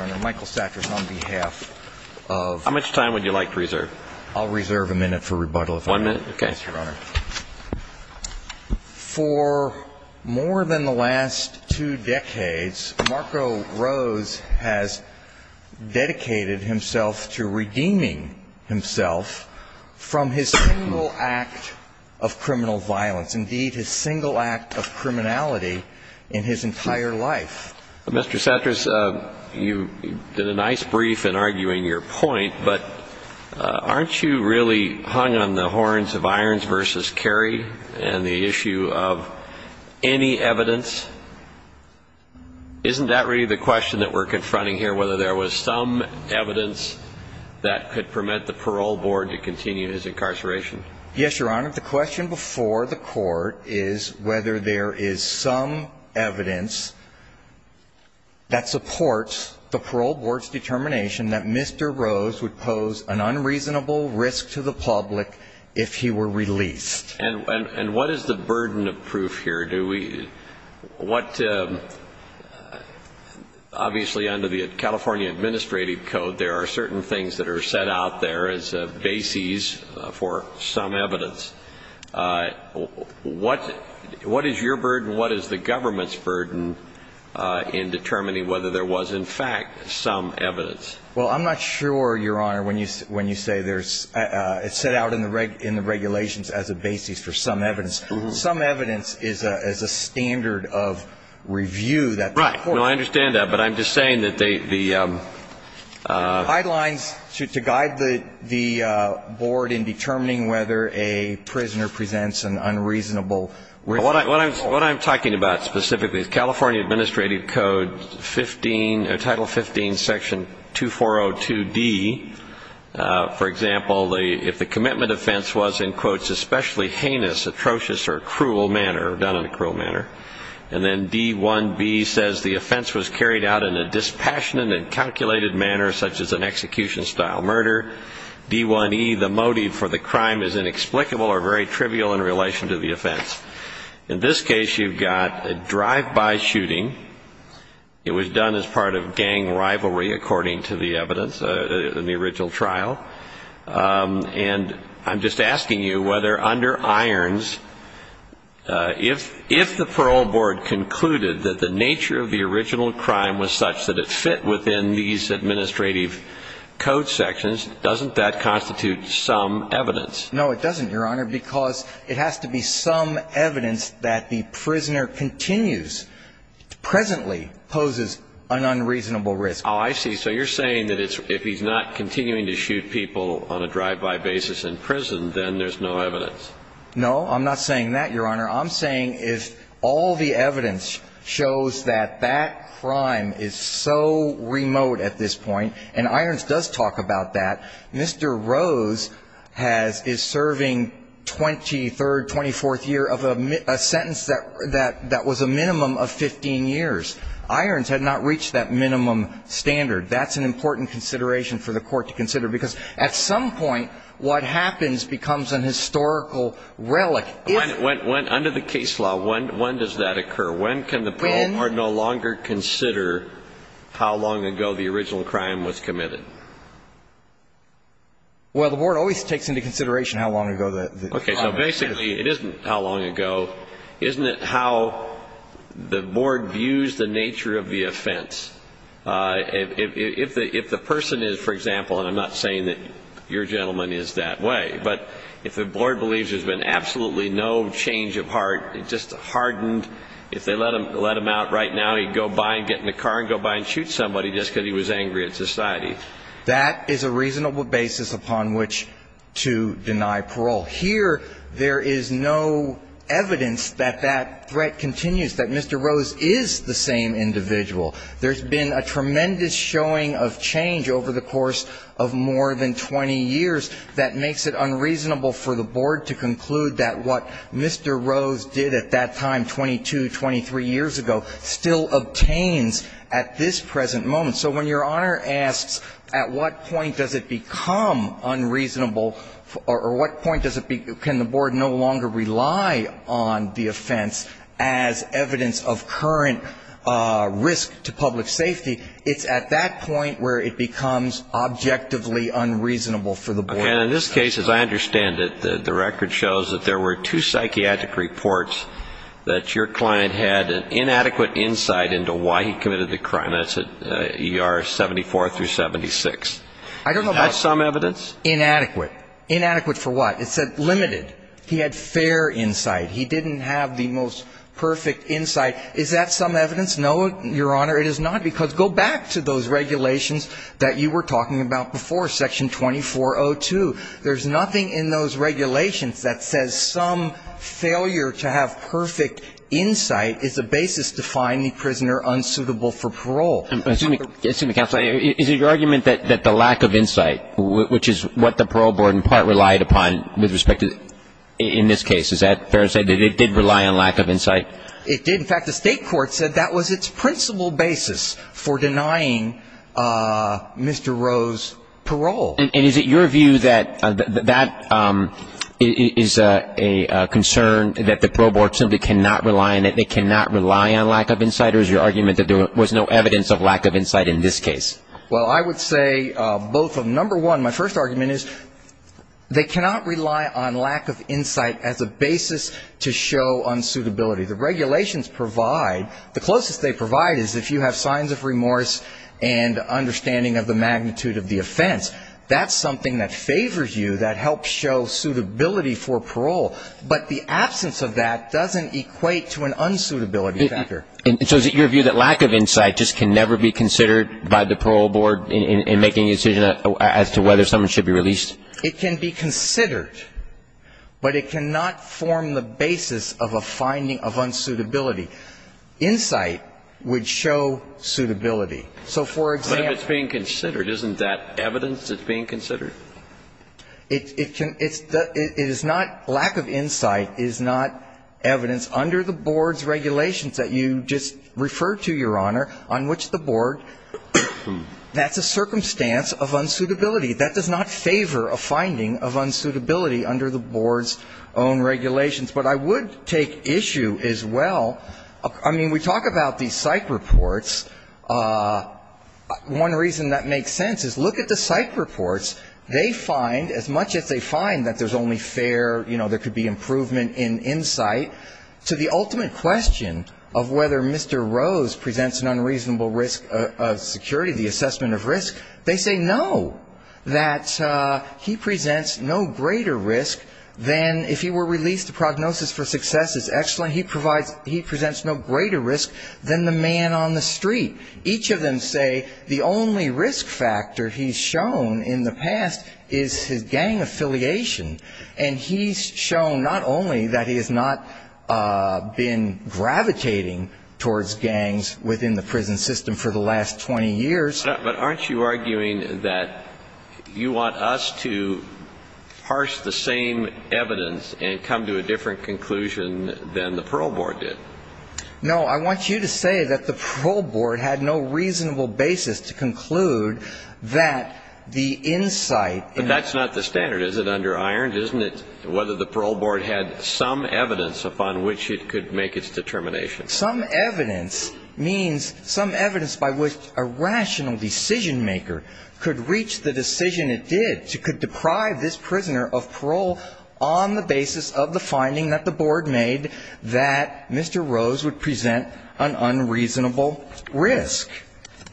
on behalf of How much time would you like to reserve? I'll reserve a minute for rebuttal if I may. One minute? Okay. Yes, Your Honor. For more than the last two decades, Marco Rose has dedicated himself to redeeming himself from his single act of criminal violence. Indeed, his single act of criminality in his entire life. Mr. Cetras, you did a nice brief in arguing your point, but aren't you really hung on the horns of Irons v. Kerry and the issue of any evidence? Isn't that really the question that we're confronting here, whether there was some evidence that could permit the parole board to continue his incarceration? Yes, Your Honor. The question before the court is whether there is some evidence that supports the parole board's determination that Mr. Rose would pose an unreasonable risk to the public if he were released. And what is the burden of proof here? Obviously, under the California Administrative Code, there are certain things that are set out there as bases for some evidence. What is your burden? What is the government's burden in determining whether there was, in fact, some evidence? Well, I'm not sure, Your Honor, when you say there's – it's set out in the regulations as a basis for some evidence. Some evidence is a standard of review that the court – Right. No, I understand that. But I'm just saying that they – the – Guidelines to guide the board in determining whether a prisoner presents an unreasonable risk – What I'm talking about specifically is California Administrative Code 15 – Title 15, Section 2402D. For example, if the commitment offense was, in quotes, especially heinous, atrocious, or cruel manner – done in a cruel manner – and then D-1B says the offense was carried out in a dispassionate and calculated manner, such as an execution-style murder, D-1E, the motive for the crime is inexplicable or very trivial in relation to the offense. In this case, you've got a drive-by shooting. It was done as part of gang rivalry, according to the evidence in the original trial. And I'm just asking you whether, under irons, if the parole board concluded that the nature of the original crime was such that it fit within these administrative code sections, doesn't that constitute some evidence? No, it doesn't, Your Honor, because it has to be some evidence that the prisoner continues – presently poses an unreasonable risk. Oh, I see. So you're saying that it's – if he's not continuing to shoot people on a drive-by basis in prison, then there's no evidence. No, I'm not saying that, Your Honor. I'm saying if all the evidence shows that that crime is so remote at this point – and irons does talk about that – Mr. Rose has – is serving 23rd, 24th year of a sentence that was a minimum of 15 years. Irons had not reached that minimum standard. That's an important consideration for the court to consider, because at some point, what happens becomes an historical relic. Under the case law, when does that occur? When can the parole board no longer consider how long ago the original crime was committed? Well, the board always takes into consideration how long ago the crime was committed. Okay. So basically, it isn't how long ago. Isn't it how the board views the nature of the offense? If the person is, for example – and I'm not saying that your gentleman is that way – but if the board believes there's been absolutely no change of heart, just hardened, if they let him out right now, he'd go by and get in the car and go by and shoot somebody just because he was angry at society. That is a reasonable basis upon which to deny parole. Here, there is no evidence that that threat continues, that Mr. Rose is the same individual. There's been a tremendous showing of change over the course of more than 20 years that makes it unreasonable for the board to conclude that what Mr. Rose did at that time, 22, 23 years ago, still obtains at this present moment. So when Your Honor asks at what point does it become unreasonable or what point can the board no longer rely on the offense as evidence of current risk to public safety, it's at that point where it becomes objectively unreasonable for the board. And in this case, as I understand it, the record shows that there were two psychiatric reports that your client had an inadequate insight into why he committed the crime. That's at ER 74 through 76. Is that some evidence? Is it your argument that the lack of insight, which is what the parole board in part relied upon with respect to, in this case, is that fair to say that it did rely on lack of insight? It did. In fact, the state court said that was its principal basis for denying Mr. Rose parole. And is it your view that that is a concern that the parole board simply cannot rely on it, they cannot rely on lack of insight, or is your argument that there was no evidence of lack of insight in this case? Well, I would say both. Number one, my first argument is they cannot rely on lack of insight as a basis to show unsuitability. The regulations provide, the closest they provide is if you have signs of remorse and understanding of the magnitude of the offense. That's something that favors you, that helps show suitability for parole. But the absence of that doesn't equate to an unsuitability factor. And so is it your view that lack of insight just can never be considered by the parole board in making a decision as to whether someone should be released? It can be considered, but it cannot form the basis of a finding of unsuitability. Insight would show suitability. So, for example ---- But if it's being considered, isn't that evidence that's being considered? It's not lack of insight is not evidence under the board's regulations that you just referred to, Your Honor, on which the board, that's a circumstance of unsuitability. That does not favor a finding of unsuitability under the board's own regulations. But I would take issue as well. I mean, we talk about these psych reports. One reason that makes sense is look at the psych reports. They find, as much as they find that there's only fair, you know, there could be improvement in insight, to the ultimate question of whether Mr. Rose presents an unreasonable risk of security, the assessment of risk, they say no. That he presents no greater risk than if he were released, the prognosis for success is excellent. He provides he presents no greater risk than the man on the street. Each of them say the only risk factor he's shown in the past is his gang affiliation. And he's shown not only that he has not been gravitating towards gangs within the prison system for the last 20 years. But aren't you arguing that you want us to parse the same evidence and come to a different conclusion than the parole board did? No. I want you to say that the parole board had no reasonable basis to conclude that the insight. But that's not the standard. Is it under iron? Isn't it whether the parole board had some evidence upon which it could make its determination? Some evidence means some evidence by which a rational decision maker could reach the decision it did, could deprive this prisoner of parole on the basis of the finding that the board made that Mr. Rose would present an unreasonable risk.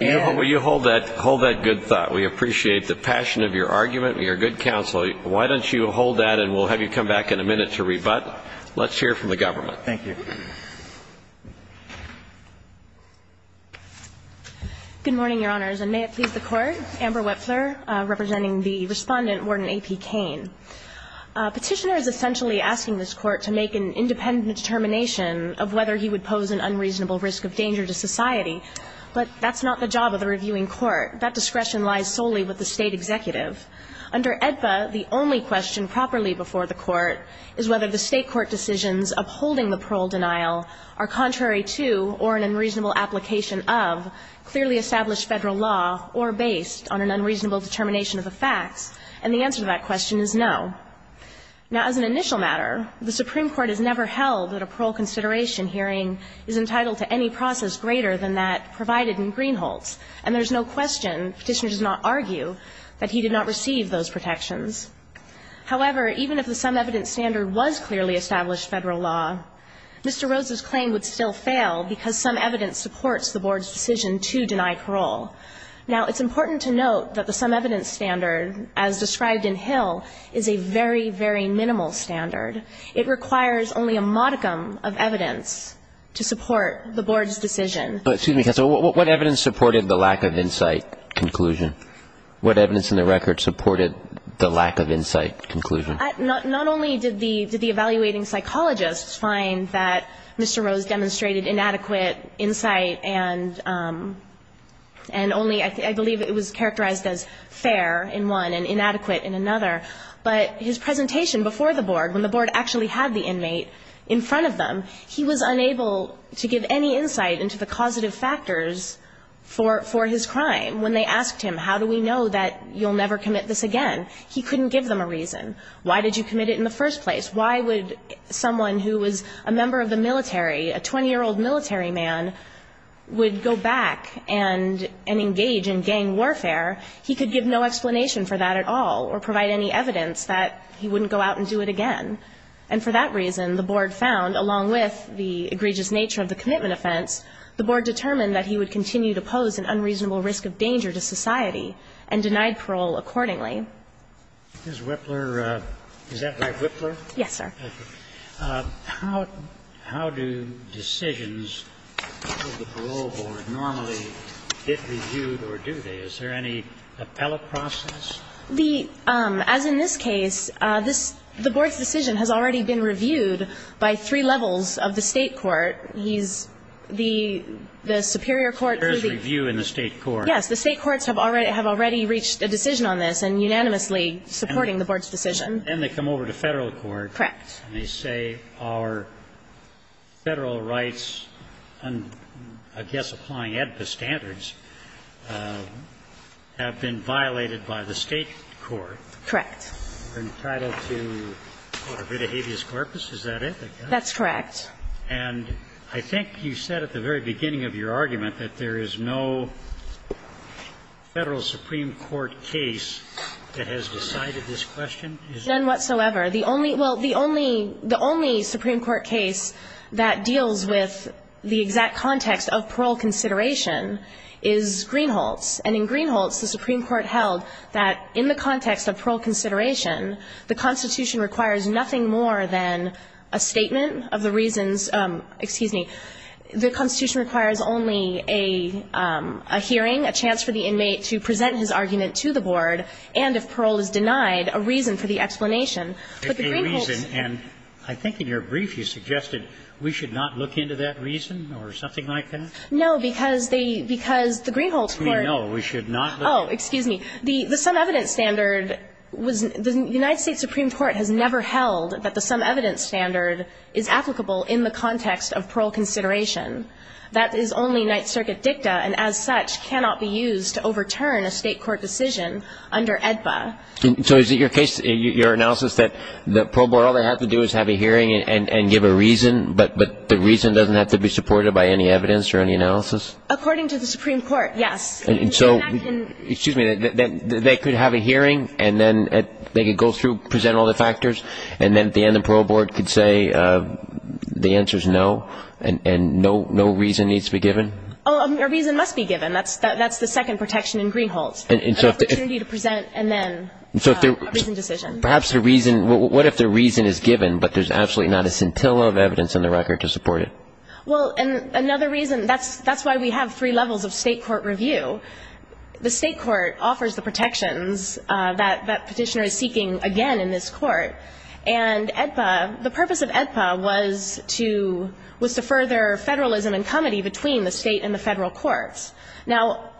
Will you hold that good thought? We appreciate the passion of your argument. We are good counsel. Why don't you hold that and we'll have you come back in a minute to rebut. Let's hear from the government. Thank you. Good morning, Your Honors. And may it please the Court. Amber Whetfler representing the Respondent, Warden A.P. Cain. Petitioner is essentially asking this Court to make an independent determination of whether he would pose an unreasonable risk of danger to society. But that's not the job of the reviewing court. That discretion lies solely with the State executive. Under AEDPA, the only question properly before the Court is whether the State court decisions upholding the parole denial are contrary to or an unreasonable application of clearly established Federal law or based on an unreasonable determination of the facts. And the answer to that question is no. Now, as an initial matter, the Supreme Court has never held that a parole consideration hearing is entitled to any process greater than that provided in Greenholtz. And there's no question, Petitioner does not argue, that he did not receive those protections. However, even if the sum evidence standard was clearly established Federal law, Mr. Rose's claim would still fail because sum evidence supports the Board's decision to deny parole. Now, it's important to note that the sum evidence standard, as described in Hill, is a very, very minimal standard. It requires only a modicum of evidence to support the Board's decision. But, excuse me, counsel, what evidence supported the lack of insight conclusion? What evidence in the record supported the lack of insight conclusion? Not only did the evaluating psychologists find that Mr. Rose demonstrated inadequate insight and only, I believe, it was characterized as fair in one and inadequate in another, but his presentation before the Board, when the Board actually had the positive factors for his crime, when they asked him, how do we know that you'll never commit this again, he couldn't give them a reason. Why did you commit it in the first place? Why would someone who was a member of the military, a 20-year-old military man, would go back and engage in gang warfare? He could give no explanation for that at all or provide any evidence that he wouldn't go out and do it again. And for that reason, the Board found, along with the egregious nature of the commitment offense, the Board determined that he would continue to pose an unreasonable risk of danger to society and denied parole accordingly. Is Whipler – is that right, Whipler? Yes, sir. How do decisions of the parole board normally get reviewed or do they? Is there any appellate process? The – as in this case, this – the Board's decision has already been reviewed by three levels of the State court. He's – the superior court to the – There is review in the State court. Yes. The State courts have already – have already reached a decision on this and unanimously supporting the Board's decision. And then they come over to Federal court. Correct. And they say our Federal rights, I guess applying AEDPA standards, have been violated by the State court. Correct. We're entitled to what, a writ of habeas corpus? Is that it? That's correct. And I think you said at the very beginning of your argument that there is no Federal supreme court case that has decided this question. None whatsoever. The only – well, the only – the only supreme court case that deals with the exact context of parole consideration is Greenholtz. And in Greenholtz, the supreme court held that in the context of parole consideration, the Constitution requires nothing more than a statement of the reasons – excuse me – the Constitution requires only a hearing, a chance for the inmate to present his argument to the Board, and if parole is denied, a reason for the explanation. But the Greenholtz – A reason, and I think in your brief you suggested we should not look into that reason or something like that? No, because they – because the Greenholtz court – No, we should not look – Oh, excuse me. The – the some evidence standard was – the United States supreme court has never held that the some evidence standard is applicable in the context of parole consideration. That is only Ninth Circuit dicta, and as such, cannot be used to overturn a State court decision under AEDPA. So is it your case – your analysis that the parole board, all they have to do is have a hearing and give a reason, but the reason doesn't have to be supported by any evidence or any analysis? According to the supreme court, yes. And so – And that can – Excuse me. They could have a hearing, and then they could go through, present all the factors, and then at the end the parole board could say the answer's no, and no reason needs to be given? Oh, a reason must be given. That's the second protection in Greenholtz. An opportunity to present, and then a reasoned decision. Perhaps a reason – what if the reason is given, but there's absolutely not a scintilla of evidence in the record to support it? Well, and another reason – that's why we have three levels of State court review. The State court offers the protections that Petitioner is seeking again in this court. And AEDPA – the purpose of AEDPA was to – was to further Federalism and comity between the State and the Federal courts. Now,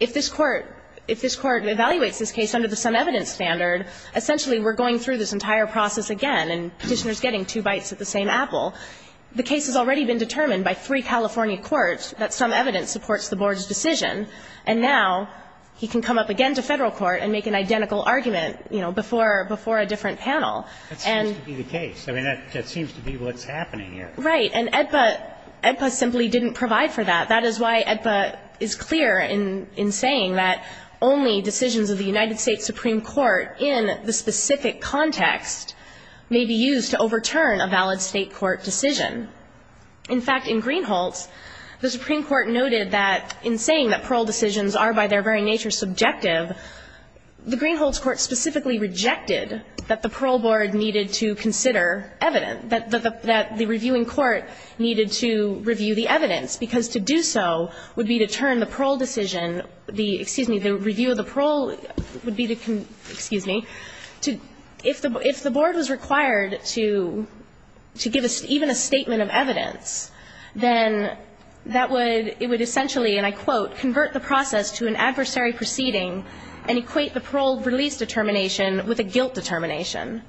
if this court – if this court evaluates this case under the sum evidence standard, essentially we're going through this entire process again, and Petitioner is getting two bites at the same apple. The case has already been determined by three California courts that sum evidence supports the board's decision. And now he can come up again to Federal court and make an identical argument, you know, before – before a different panel. And – That seems to be the case. I mean, that seems to be what's happening here. Right. And AEDPA – AEDPA simply didn't provide for that. That is why AEDPA is clear in – in saying that only decisions of the United States Supreme Court in the specific context may be used to overturn a valid State court decision. In fact, in Greenholz, the Supreme Court noted that in saying that parole decisions are by their very nature subjective, the Greenholz court specifically rejected that the parole board needed to consider evidence, that the – that the reviewing court needed to review the evidence, because to do so would be to turn the parole decision – the – excuse me, the review of the parole would be to – excuse me – to – if the – if the board was required to – to give even a statement of evidence, then that would – it would essentially, and I quote, convert the process to an adversary proceeding and equate the parole release determination with a guilt determination.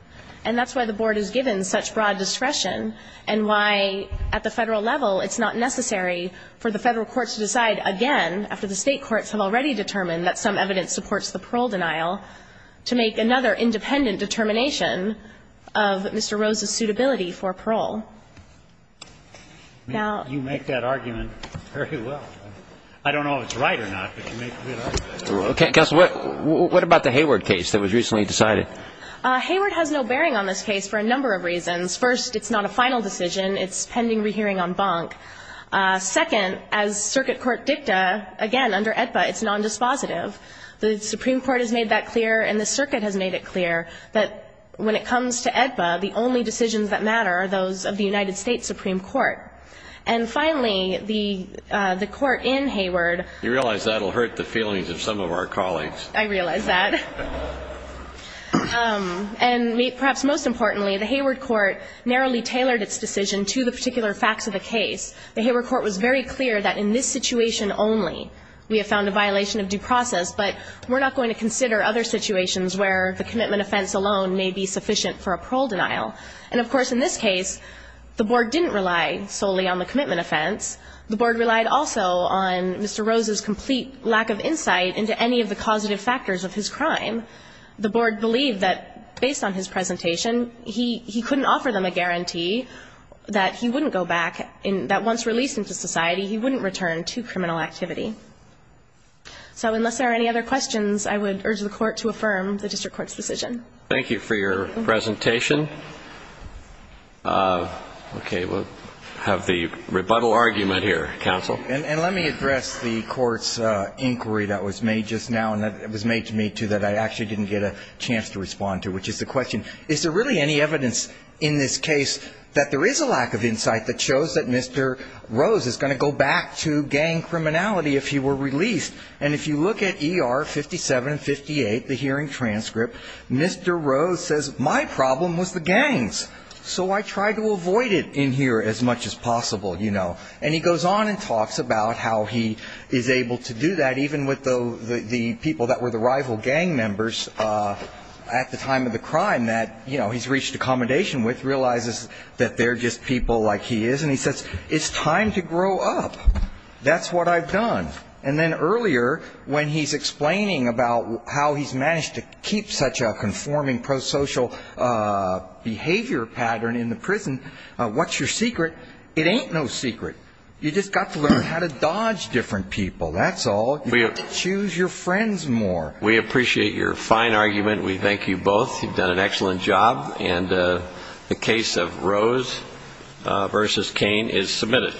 And that's why the board is given such broad discretion and why at the Federal level it's not necessary for the Federal courts to decide again, after the State courts have already determined that some evidence supports the parole denial, to make another independent determination of Mr. Rose's suitability for parole. Now – You make that argument very well. I don't know if it's right or not, but you make a good argument. Okay. Counsel, what – what about the Hayward case that was recently decided? Hayward has no bearing on this case for a number of reasons. First, it's not a final decision. It's pending rehearing en banc. Second, as circuit court dicta, again, under AEDPA, it's nondispositive. The Supreme Court has made that clear and the circuit has made it clear that when it comes to AEDPA, the only decisions that matter are those of the United States Supreme Court. And finally, the – the court in Hayward – You realize that will hurt the feelings of some of our colleagues. I realize that. And perhaps most importantly, the Hayward court narrowly tailored its decision to the particular facts of the case. The Hayward court was very clear that in this situation only, we have found a violation of due process, but we're not going to consider other situations where the commitment offense alone may be sufficient for a parole denial. And of course, in this case, the Board didn't rely solely on the commitment offense. The Board relied also on Mr. Rose's complete lack of insight into any of the causative factors of his crime. The Board believed that based on his presentation, he couldn't offer them a guarantee that he wouldn't go back – that once released into society, he wouldn't return to criminal activity. So unless there are any other questions, I would urge the court to affirm the district court's decision. Thank you for your presentation. Okay, we'll have the rebuttal argument here, counsel. And let me address the court's inquiry that was made just now, and that was made to me, too, that I actually didn't get a chance to respond to, which is the question, is there really any evidence in this case that there is a lack of insight that shows that Mr. Rose is going to go back to gang criminality if he were released? And if you look at ER 5758, the hearing transcript, Mr. Rose says, my problem was the gangs, so I tried to avoid it in here as much as possible, you know. And he goes on and talks about how he is able to do that, even with the people that were the rival gang members at the time of the crime that, you know, he's reached accommodation with, realizes that they're just people like he is, and he says, it's time to grow up. That's what I've done. And then earlier, when he's explaining about how he's managed to keep such a conforming pro-social behavior pattern in the prison, what's your secret? It ain't no secret. You just got to learn how to dodge different people, that's all. You got to choose your friends more. We appreciate your fine argument. We thank you both. You've done an excellent job. And the case of Rose v. Cain is submitted.